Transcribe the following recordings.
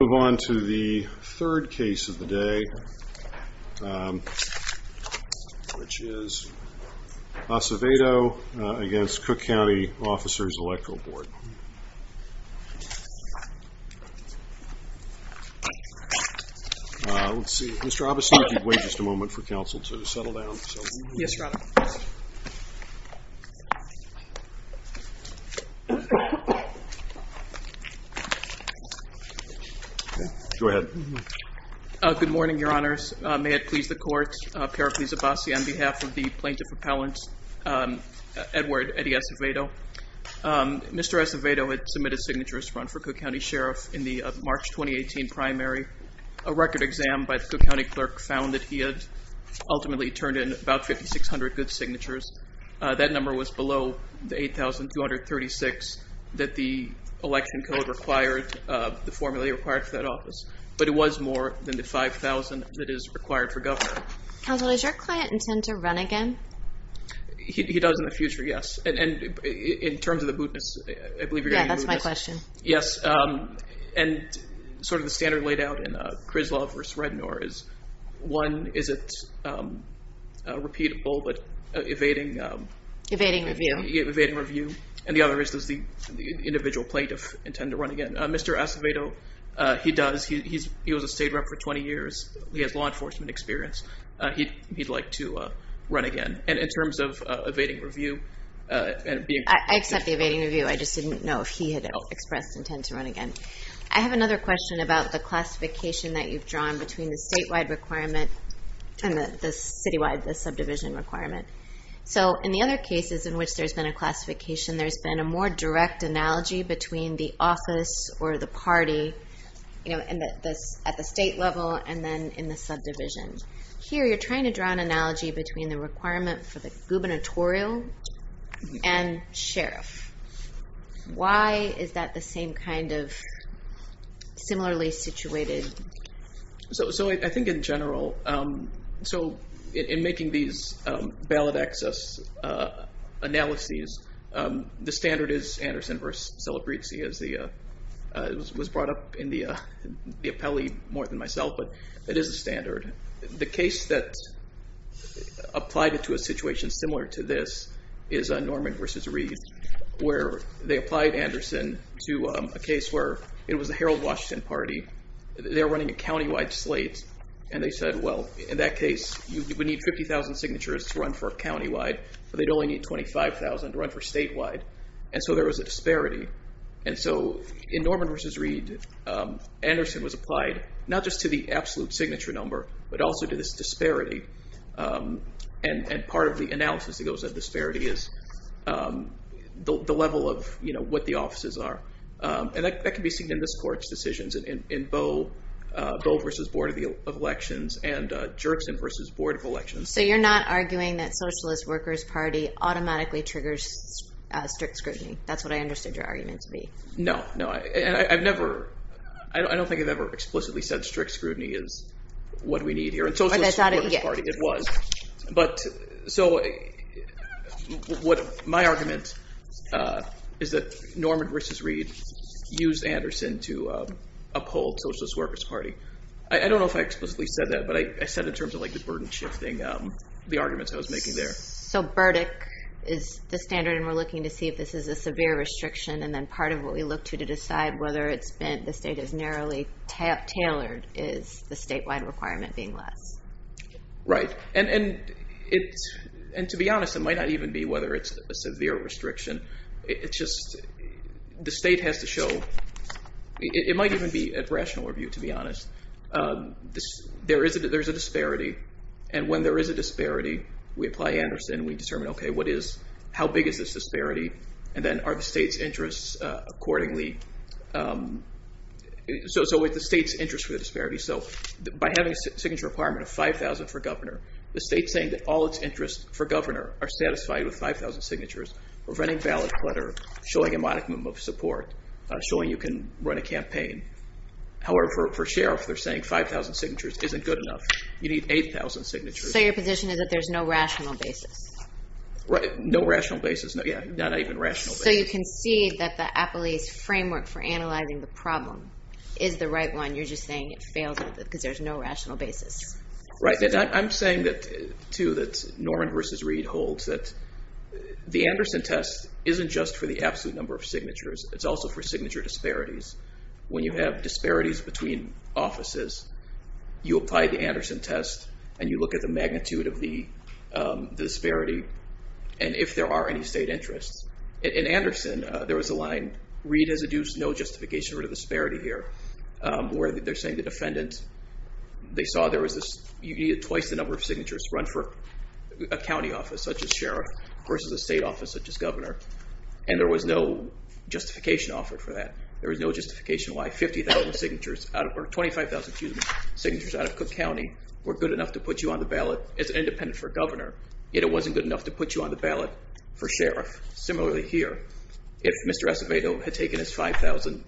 Let's move on to the third case of the day, which is Acevedo v. Cook County Officers Electoral Board. Let's see, Mr. Abbasi, if you'd wait just a moment for counsel to settle down. Yes, your honor. Go ahead. Good morning, your honors. May it please the court, a pair of these Abbasi on behalf of the plaintiff appellant, Edward Eddie Acevedo. Mr. Acevedo had submitted signatures to run for Cook County Sheriff in the March 2018 primary. A record exam by the Cook County clerk found that he had ultimately turned in about 5,600 good signatures. That number was below the 8,236 that the election code required, the formula required for that office. But it was more than the 5,000 that is required for government. Counsel, does your client intend to run again? He does in the future, yes. And in terms of the mootness, I believe you're going to do this. Yeah, that's my question. Yes. And sort of the standard laid out in Krizlov v. Rednor is, one, is it repeatable but evading review. And the other is, does the individual plaintiff intend to run again? Mr. Acevedo, he does. He was a state rep for 20 years. He has law enforcement experience. He'd like to run again. And in terms of evading review and being- I accept the evading review. I just didn't know if he had expressed intent to run again. I have another question about the classification that you've drawn between the statewide requirement and the citywide, the subdivision requirement. So in the other cases in which there's been a classification, there's been a more direct analogy between the office or the party at the state level and then in the subdivision. Here, you're trying to draw an analogy between the requirement for the gubernatorial and sheriff. Why is that the same kind of similarly situated? So I think in general, so in making these ballot access analyses, the standard is Anderson v. Celebrezzi. It was brought up in the appellee more than myself, but it is a standard. The case that applied it to a situation similar to this is Norman v. Reed, where they applied Anderson to a case where it was a Herald Washington party. They were running a countywide slate, and they said, well, in that case, you would need 50,000 signatures to run for countywide, but they'd only need 25,000 to run for statewide. And so there was a disparity. And so in Norman v. Reed, Anderson was applied not just to the absolute signature number, but also to this disparity. And part of the analysis that goes at disparity is the level of what the offices are. And that can be seen in this court's decisions in Boe v. Board of Elections and Jerkson v. Board of Elections. So you're not arguing that Socialist Workers Party automatically triggers strict scrutiny. That's what I understood your argument to be. No, no, I've never. I don't think I've ever explicitly said strict scrutiny is what we need here in Socialist Workers Party. It was. But so what my argument is that Norman v. Reed used Anderson to uphold Socialist Workers Party. I don't know if I explicitly said that, but I said in terms of the burden shifting, the arguments I was making there. So Burdick is the standard, and we're looking to see if this is a severe restriction, and then part of what we look to to decide whether the state is narrowly tailored is the statewide requirement being less. Right. And to be honest, it might not even be whether it's a severe restriction. It's just the state has to show. It might even be a rational review, to be honest. There is a disparity, and when there is a disparity, we apply Anderson. We determine, OK, what is, how big is this disparity, and then are the state's interests accordingly. So it's the state's interest for the disparity. So by having a signature requirement of 5,000 for governor, the state's saying that all its interests for governor are satisfied with 5,000 signatures. We're running ballot clutter, showing a modicum of support, showing you can run a campaign. However, for sheriff, they're saying 5,000 signatures isn't good enough. You need 8,000 signatures. So your position is that there's no rational basis? No rational basis. Yeah, not even rational basis. So you can see that the Apolyse framework for analyzing the problem is the right one. You're just saying it fails because there's no rational basis. Right, and I'm saying that, too, that Norman versus Reed holds that the Anderson test isn't just for the absolute number of signatures. It's also for signature disparities. When you have disparities between offices, you apply the Anderson test, and you look at the magnitude of the disparity, and if there are any state interests. In Anderson, there was a line, Reed has adduced no justification for the disparity here, where they're saying the defendant, they saw there was this, you needed twice the number of signatures to run for a county office, such as sheriff, versus a state office, such as governor. And there was no justification offered for that. There was no justification why 50,000 signatures, or 25,000, excuse me, signatures out of Cook County were good enough to put you on the ballot as an independent for governor, yet it wasn't good enough to put you on the ballot for sheriff. Similarly here, if Mr. Acevedo had taken his 5,000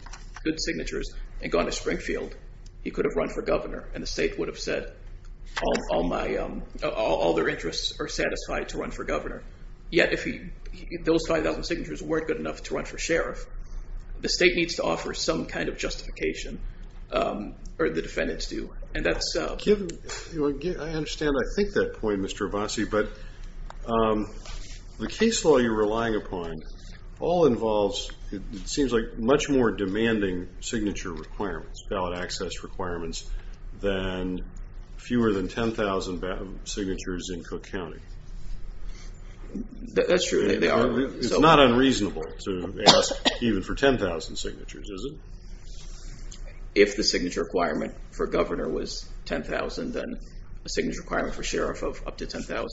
good signatures and gone to Springfield, he could have run for governor, and the state would have said all their interests are satisfied to run for governor. Yet if those 5,000 signatures weren't good enough to run for sheriff, the state needs to offer some kind of justification, or the defendants do. I understand, I think, that point, Mr. Abbasi, but the case law you're relying upon all involves, it seems like, much more demanding signature requirements, ballot access requirements, than fewer than 10,000 signatures in Cook County. That's true. It's not unreasonable to ask even for 10,000 signatures, is it? If the signature requirement for governor was 10,000, then a signature requirement for sheriff of up to 10,000.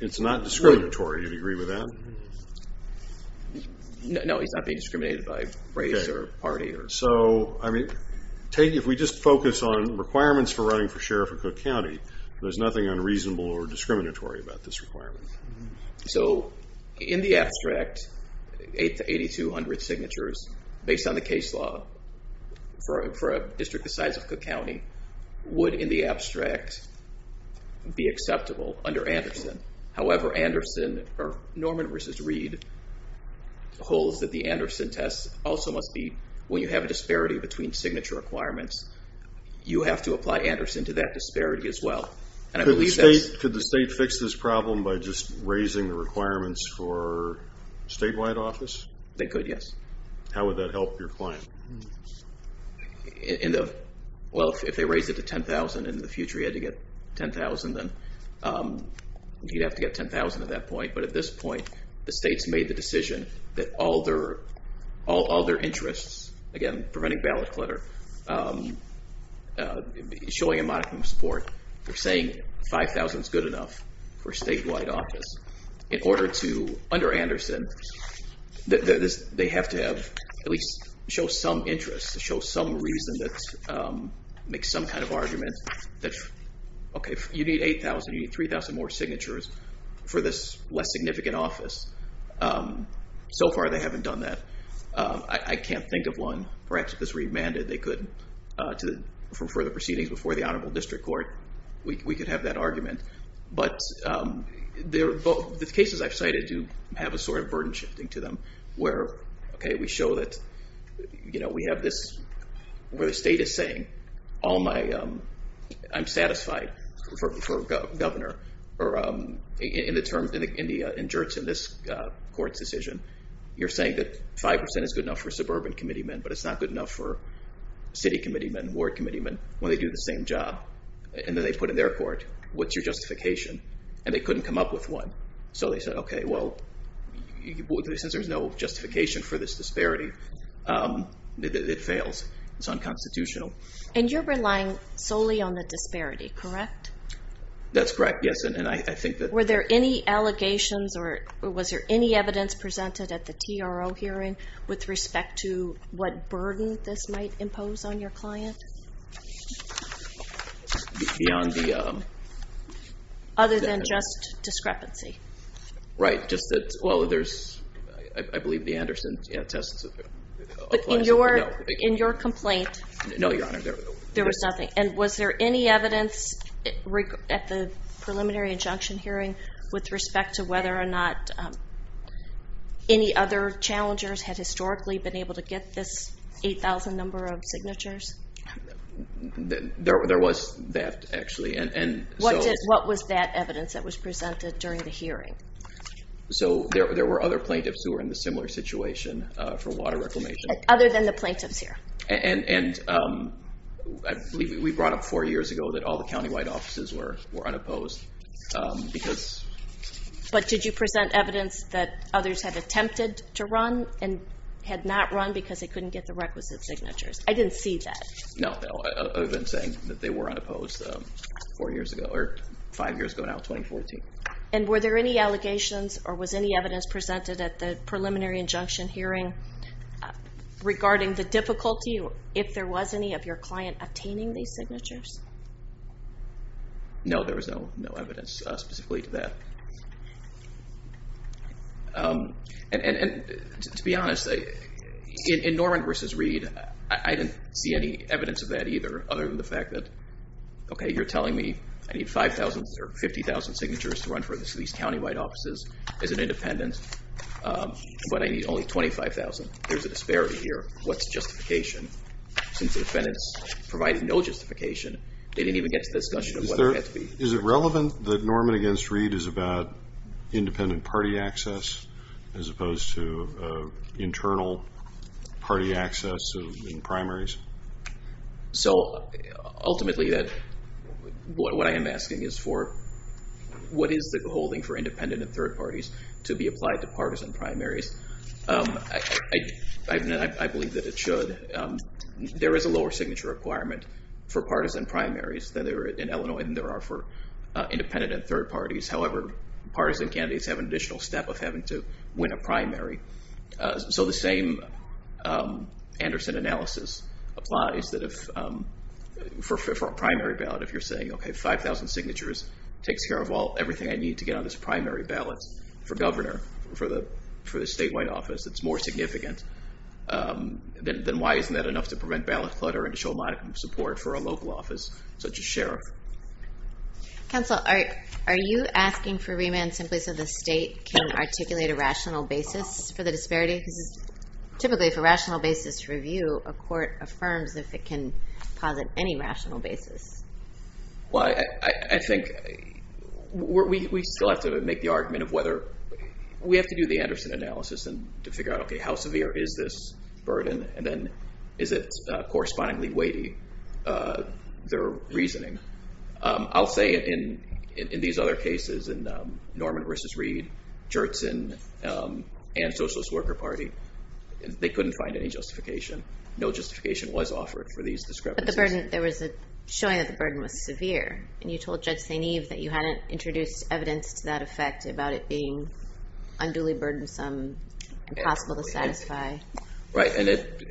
It's not discriminatory, do you agree with that? No, he's not being discriminated by race or party. So, I mean, if we just focus on requirements for running for sheriff in Cook County, there's nothing unreasonable or discriminatory about this requirement. So, in the abstract, 8,200 signatures, based on the case law, for a district the size of Cook County, would, in the abstract, be acceptable under Anderson. However, Anderson, or Norman v. Reed, holds that the Anderson test also must be, when you have a disparity between signature requirements, you have to apply Anderson to that disparity as well. Could the state fix this problem by just raising the requirements for statewide office? They could, yes. How would that help your client? Well, if they raise it to 10,000 in the future, you'd have to get 10,000 at that point. But at this point, the state's made the decision that all their interests, again, preventing ballot clutter, showing a modicum of support, they're saying 5,000 is good enough for statewide office. In order to, under Anderson, they have to have, at least show some interest, show some reason that makes some kind of argument that, okay, you need 8,000, you need 3,000 more signatures for this less significant office. So far, they haven't done that. I can't think of one. Perhaps if this were remanded, they could, for the proceedings before the Honorable District Court, we could have that argument. But the cases I've cited do have a sort of burden shifting to them, where, okay, we show that we have this, where the state is saying, I'm satisfied for governor, or in the injurts in this court's decision, you're saying that 5% is good enough for suburban committeemen, but it's not good enough for city committeemen, ward committeemen, when they do the same job. And then they put in their court, what's your justification? And they couldn't come up with one. So they said, okay, well, since there's no justification for this disparity, it fails. It's unconstitutional. And you're relying solely on the disparity, correct? That's correct, yes. And I think that... Were there any allegations, or was there any evidence presented at the TRO hearing with respect to what burden this might impose on your client? Beyond the... Other than just discrepancy. Right, just that, well, there's, I believe the Anderson test... But in your complaint... No, Your Honor. There was nothing. And was there any evidence at the preliminary injunction hearing with respect to whether or not any other challengers had historically been able to get this 8,000 number of signatures? There was that, actually. What was that evidence that was presented during the hearing? So there were other plaintiffs who were in the similar situation for water reclamation. Other than the plaintiffs here? And I believe we brought up four years ago that all the county-wide offices were unopposed because... But did you present evidence that others had attempted to run and had not run because they couldn't get the requisite signatures? I didn't see that. No, I've been saying that they were unopposed four years ago, or five years ago now, 2014. And were there any allegations, or was any evidence presented at the preliminary injunction hearing regarding the difficulty, if there was any, of your client obtaining these signatures? No, there was no evidence specifically to that. And to be honest, in Norman v. Reed, I didn't see any evidence of that either, other than the fact that, okay, you're telling me I need 5,000 or 50,000 signatures to run for these county-wide offices as an independent, but I need only 25,000. There's a disparity here. What's justification? Since the defendants provided no justification, they didn't even get to the discussion of whether it had to be. Is it relevant that Norman v. Reed is about independent party access, as opposed to internal party access in primaries? So, ultimately, what I am asking is for, what is the holding for independent and third parties to be applied to partisan primaries? I believe that it should. There is a lower signature requirement for partisan primaries than there are in Illinois, than there are for independent and third parties. However, partisan candidates have an additional step of having to win a primary. So, the same Anderson analysis applies that if, for a primary ballot, if you're saying, okay, 5,000 signatures takes care of everything I need to get on this primary ballot for governor, for the statewide office, it's more significant, then why isn't that enough to prevent ballot clutter and to show modicum of support for a local office, such as sheriff? Counsel, are you asking for remand simply so the state can articulate a rational basis for the disparity? Because, typically, if a rational basis is reviewed, a court affirms if it can posit any rational basis. Well, I think we still have to make the argument of whether, we have to do the Anderson analysis to figure out, okay, how severe is this burden? And then, is it correspondingly weighty, their reasoning? I'll say in these other cases, in Norman v. Reed, Jertson, and Socialist Worker Party, they couldn't find any justification. No justification was offered for these discrepancies. But the burden, there was a showing that the burden was severe, and you told Judge St. Eve that you hadn't introduced evidence to that effect about it being unduly burdensome, impossible to satisfy. Right, and it,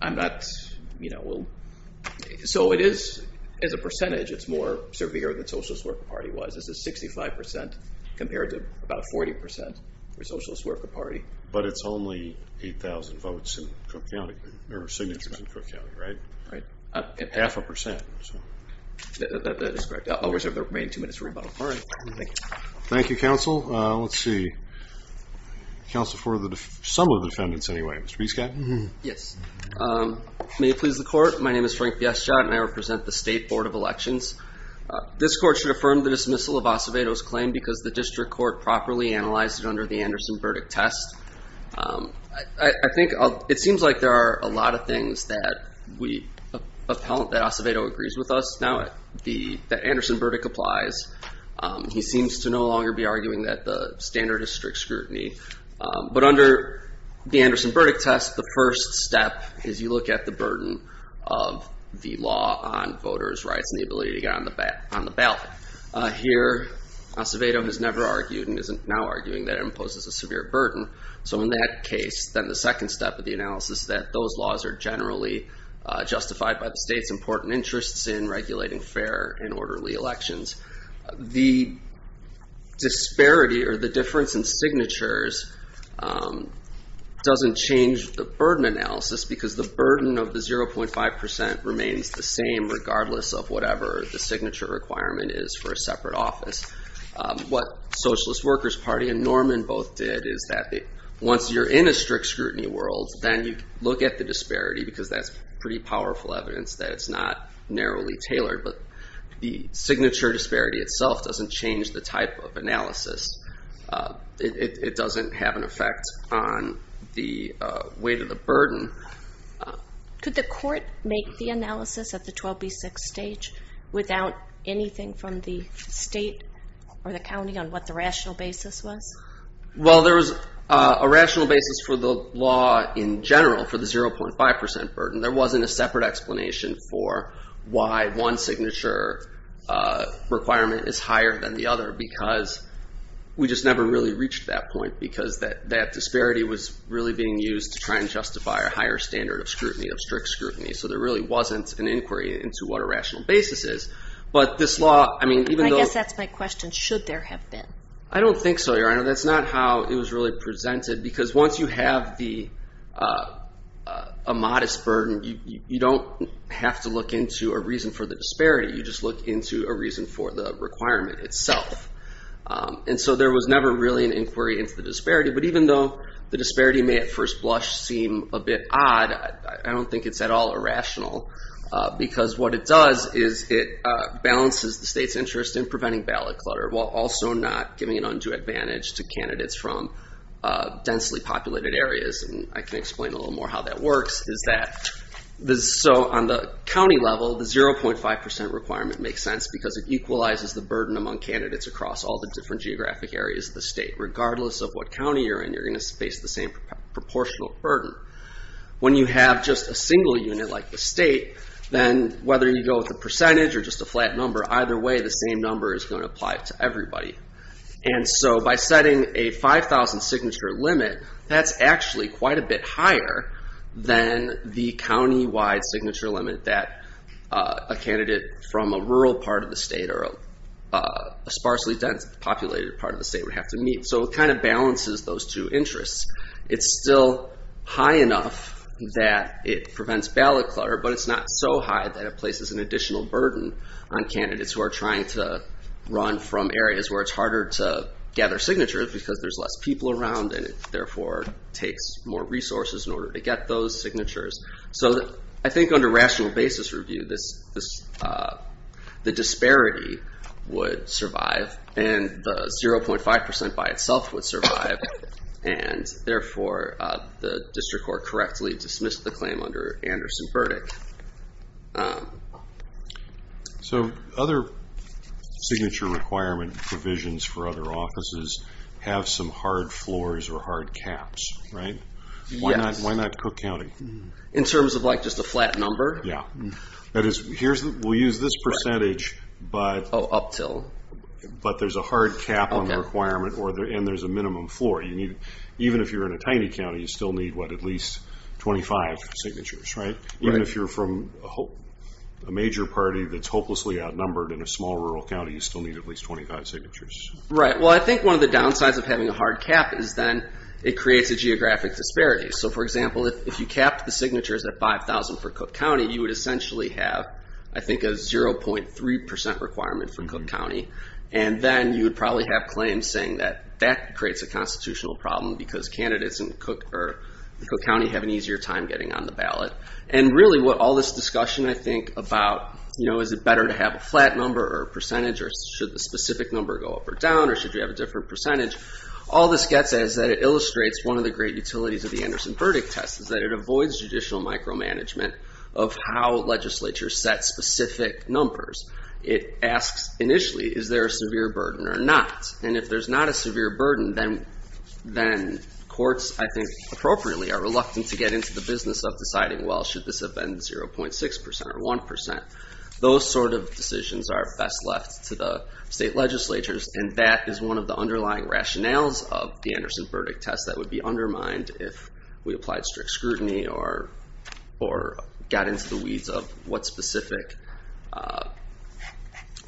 I'm not, you know, so it is, as a percentage, it's more severe than Socialist Worker Party was. It's a 65% compared to about 40% for Socialist Worker Party. But it's only 8,000 votes in Cook County, or signatures in Cook County, right? Right. Half a percent, so. That is correct. I'll reserve the remaining two minutes for rebuttal. All right. Thank you. Thank you, counsel. Let's see. Counsel for the, some of the defendants, anyway. Mr. Prescott? Yes. May it please the court, my name is Frank Biestjot, and I represent the State Board of Elections. This court should affirm the dismissal of Acevedo's claim because the district court properly analyzed it under the Anderson-Burdick test. I think, it seems like there are a lot of things that we, that Acevedo agrees with us. Now that Anderson-Burdick applies, he seems to no longer be arguing that the standard is strict scrutiny. But under the Anderson-Burdick test, the first step is you look at the burden of the law on voters' rights and the ability to get on the ballot. Here, Acevedo has never argued and is now arguing that it imposes a severe burden. So in that case, then the second step of the analysis is that those laws are generally justified by the state's important interests in regulating fair and orderly elections. The disparity, or the difference in signatures, doesn't change the burden analysis because the burden of the 0.5% remains the same regardless of whatever the signature requirement is for a separate office. What Socialist Workers Party and Norman both did is that once you're in a strict scrutiny world, then you look at the disparity because that's pretty powerful evidence that it's not narrowly tailored. But the signature disparity itself doesn't change the type of analysis. It doesn't have an effect on the weight of the burden. Could the court make the analysis at the 12B6 stage without anything from the state or the county on what the rational basis was? Well, there was a rational basis for the law in general for the 0.5% burden. There wasn't a separate explanation for why one signature requirement is higher than the other because we just never really reached that point because that disparity was really being used to try and justify a higher standard of scrutiny, of strict scrutiny. So there really wasn't an inquiry into what a rational basis is. But this law, I mean, even though— I guess that's my question. Should there have been? I don't think so, Your Honor. That's not how it was really presented because once you have a modest burden, you don't have to look into a reason for the disparity. You just look into a reason for the requirement itself. And so there was never really an inquiry into the disparity. But even though the disparity may at first blush seem a bit odd, I don't think it's at all irrational because what it does is it balances the state's interest in preventing ballot clutter while also not giving an undue advantage to candidates from densely populated areas. And I can explain a little more how that works is that— So on the county level, the 0.5% requirement makes sense because it equalizes the burden among candidates across all the different geographic areas of the state regardless of what county you're in. You're going to face the same proportional burden. When you have just a single unit like the state, then whether you go with a percentage or just a flat number, either way, the same number is going to apply to everybody. And so by setting a 5,000 signature limit, that's actually quite a bit higher than the countywide signature limit that a candidate from a rural part of the state or a sparsely populated part of the state would have to meet. So it kind of balances those two interests. It's still high enough that it prevents ballot clutter, but it's not so high that it places an additional burden on candidates who are trying to run from areas where it's harder to gather signatures because there's less people around and it therefore takes more resources in order to get those signatures. So I think under rational basis review, the disparity would survive and the 0.5% by itself would survive and therefore the district court correctly dismissed the claim under Anderson's verdict. So other signature requirement provisions for other offices have some hard floors or hard caps, right? Yes. Why not Cook County? In terms of just a flat number? Yeah. We'll use this percentage, but there's a hard cap on the requirement and there's a minimum floor. Even if you're in a tiny county, you still need at least 25 signatures, right? Even if you're from a major party that's hopelessly outnumbered in a small rural county, you still need at least 25 signatures. Right. Well, I think one of the downsides of having a hard cap is then it creates a geographic disparity. So, for example, if you capped the signatures at 5,000 for Cook County, you would essentially have, I think, a 0.3% requirement for Cook County. And then you would probably have claims saying that that creates a constitutional problem because candidates in Cook County have an easier time getting on the ballot. And really what all this discussion, I think, about is it better to have a flat number or a percentage or should the specific number go up or down or should you have a different percentage? All this gets at is that it illustrates one of the great utilities of the Anderson verdict test is that it avoids judicial micromanagement of how legislature sets specific numbers. It asks initially, is there a severe burden or not? And if there's not a severe burden, then courts, I think, appropriately are reluctant to get into the business of deciding, well, should this have been 0.6% or 1%? Those sort of decisions are best left to the state legislatures. And that is one of the underlying rationales of the Anderson verdict test that would be undermined if we applied strict scrutiny or got into the weeds of what specific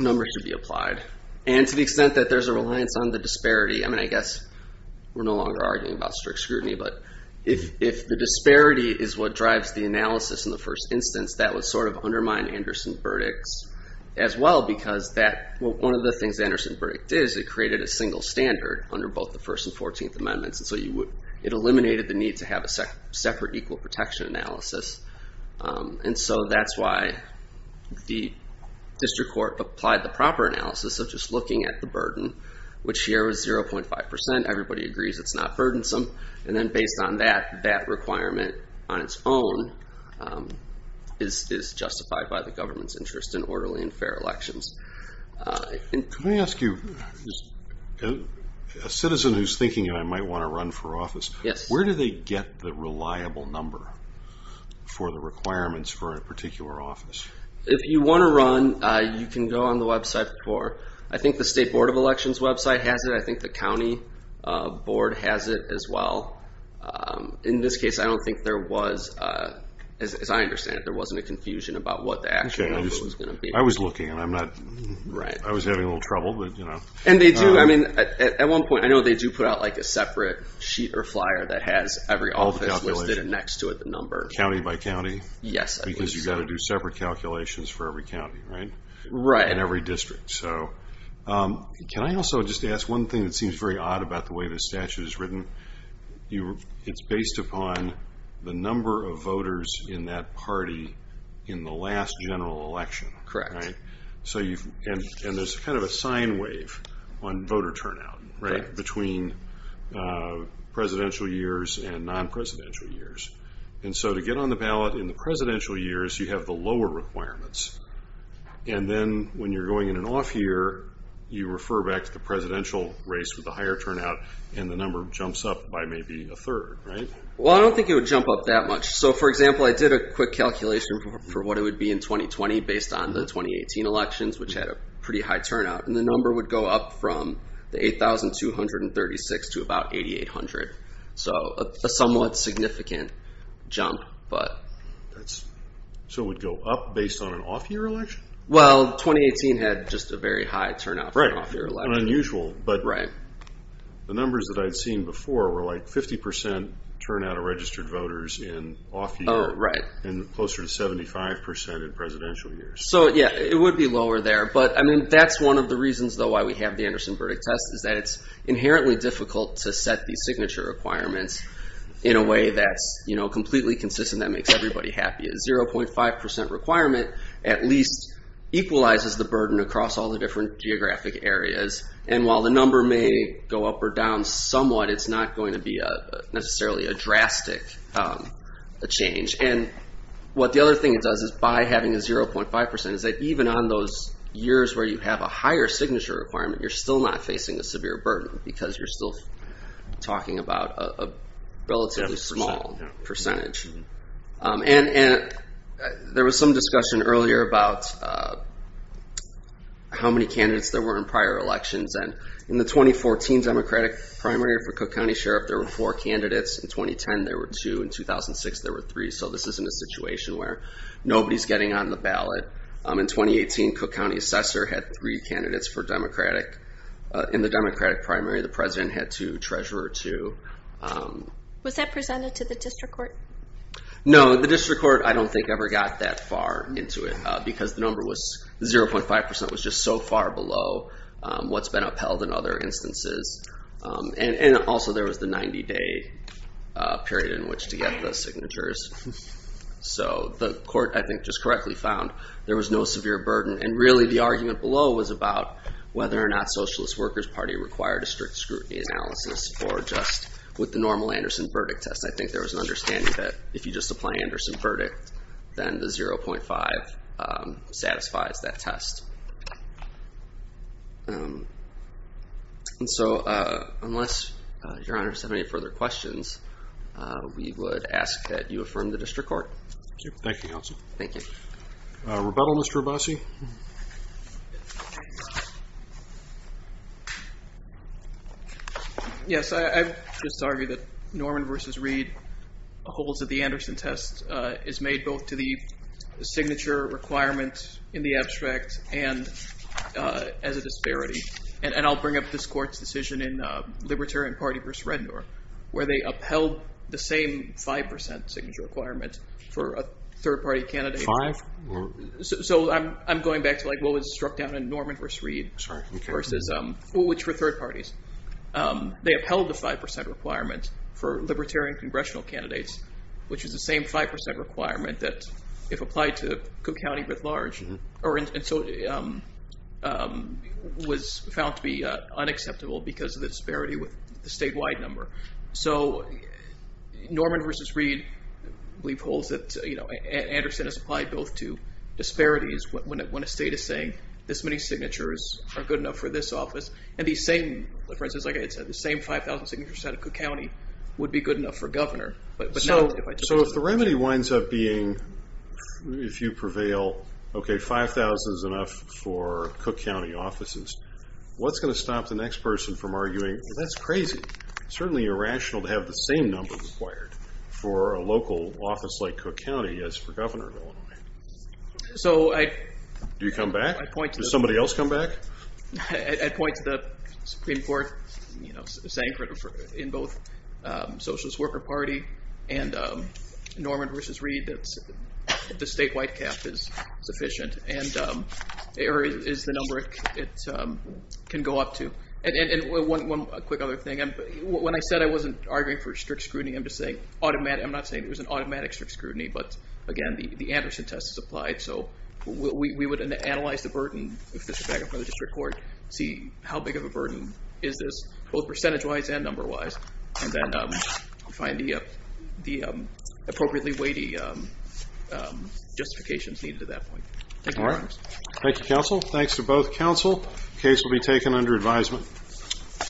numbers should be applied. And to the extent that there's a reliance on the disparity, I mean, I guess we're no longer arguing about strict scrutiny, but if the disparity is what drives the analysis in the first instance, that would sort of undermine Anderson verdicts as well because one of the things the Anderson verdict did is it created a single standard under both the First and Fourteenth Amendments. And so it eliminated the need to have a separate equal protection analysis. And so that's why the district court applied the proper analysis of just looking at the burden, which here was 0.5%. And everybody agrees it's not burdensome. And then based on that, that requirement on its own is justified by the government's interest in orderly and fair elections. Can I ask you, as a citizen who's thinking I might want to run for office, where do they get the reliable number for the requirements for a particular office? If you want to run, you can go on the website for, I think the State Board of Elections website has it. I think the county board has it as well. In this case, I don't think there was, as I understand it, there wasn't a confusion about what the actual number was going to be. I was looking and I'm not, I was having a little trouble, but you know. And they do, I mean, at one point, I know they do put out like a separate sheet or flyer that has every office listed next to it, the number. County by county? Yes. Because you've got to do separate calculations for every county, right? Right. And every district. Can I also just ask one thing that seems very odd about the way this statute is written? It's based upon the number of voters in that party in the last general election. Correct. And there's kind of a sine wave on voter turnout, right, between presidential years and non-presidential years. And so to get on the ballot in the presidential years, you have the lower requirements. And then when you're going in an off year, you refer back to the presidential race with the higher turnout, and the number jumps up by maybe a third, right? Well, I don't think it would jump up that much. So, for example, I did a quick calculation for what it would be in 2020 based on the 2018 elections, which had a pretty high turnout. And the number would go up from the 8,236 to about 8,800. So a somewhat significant jump, but. So it would go up based on an off-year election? Well, 2018 had just a very high turnout for an off-year election. Right. Unusual. Right. But the numbers that I'd seen before were like 50 percent turnout of registered voters in off-year. Right. And closer to 75 percent in presidential years. So, yeah, it would be lower there. But, I mean, that's one of the reasons, though, why we have the Anderson verdict test is that it's inherently difficult to set these signature requirements in a way that's completely consistent. That makes everybody happy. A 0.5 percent requirement at least equalizes the burden across all the different geographic areas. And while the number may go up or down somewhat, it's not going to be necessarily a drastic change. And what the other thing it does is by having a 0.5 percent is that even on those years where you have a higher signature requirement, you're still not facing a severe burden because you're still talking about a relatively small percentage. And there was some discussion earlier about how many candidates there were in prior elections. And in the 2014 Democratic primary for Cook County Sheriff, there were four candidates. In 2010, there were two. In 2006, there were three. So this isn't a situation where nobody's getting on the ballot. In 2018, Cook County Assessor had three candidates for Democratic. In the Democratic primary, the President had two, Treasurer two. Was that presented to the district court? No, the district court I don't think ever got that far into it because the number was 0.5 percent was just so far below what's been upheld in other instances. And also there was the 90-day period in which to get the signatures. So the court, I think, just correctly found there was no severe burden. And really the argument below was about whether or not Socialist Workers' Party required a strict scrutiny analysis or just with the normal Anderson verdict test. I think there was an understanding that if you just apply Anderson verdict, then the 0.5 satisfies that test. And so unless your honors have any further questions, we would ask that you affirm the district court. Thank you, counsel. Thank you. Rebuttal, Mr. Abbasi? Yes, I would just argue that Norman v. Reed holds that the Anderson test is made both to the signature requirement in the abstract and as a disparity. And I'll bring up this court's decision in Libertarian Party v. Rednor where they upheld the same 5 percent signature requirement for a third party candidate. So I'm going back to what was struck down in Norman v. Reed, which were third parties. They upheld the 5 percent requirement for Libertarian congressional candidates, which is the same 5 percent requirement that if applied to Cook County writ large. And so it was found to be unacceptable because of the disparity with the statewide number. So Norman v. Reed, I believe, holds that Anderson is applied both to disparities when a state is saying this many signatures are good enough for this office. And the same, for instance, like I said, the same 5,000 signatures out of Cook County would be good enough for a governor. So if the remedy winds up being, if you prevail, okay, 5,000 is enough for Cook County offices, what's going to stop the next person from arguing that's crazy? It's certainly irrational to have the same number required for a local office like Cook County as for Governor of Illinois. Do you come back? Does somebody else come back? I point to the Supreme Court saying in both Socialist Worker Party and Norman v. Reed that the statewide cap is sufficient. Or is the number it can go up to. And one quick other thing, when I said I wasn't arguing for strict scrutiny, I'm just saying, I'm not saying it was an automatic strict scrutiny, but again, the Anderson test is applied, so we would analyze the burden, if this were back in front of the district court, see how big of a burden is this, both percentage-wise and number-wise, and then find the appropriately weighty justifications needed at that point. All right. Thank you, counsel. Thanks to both counsel. Case will be taken under advisement.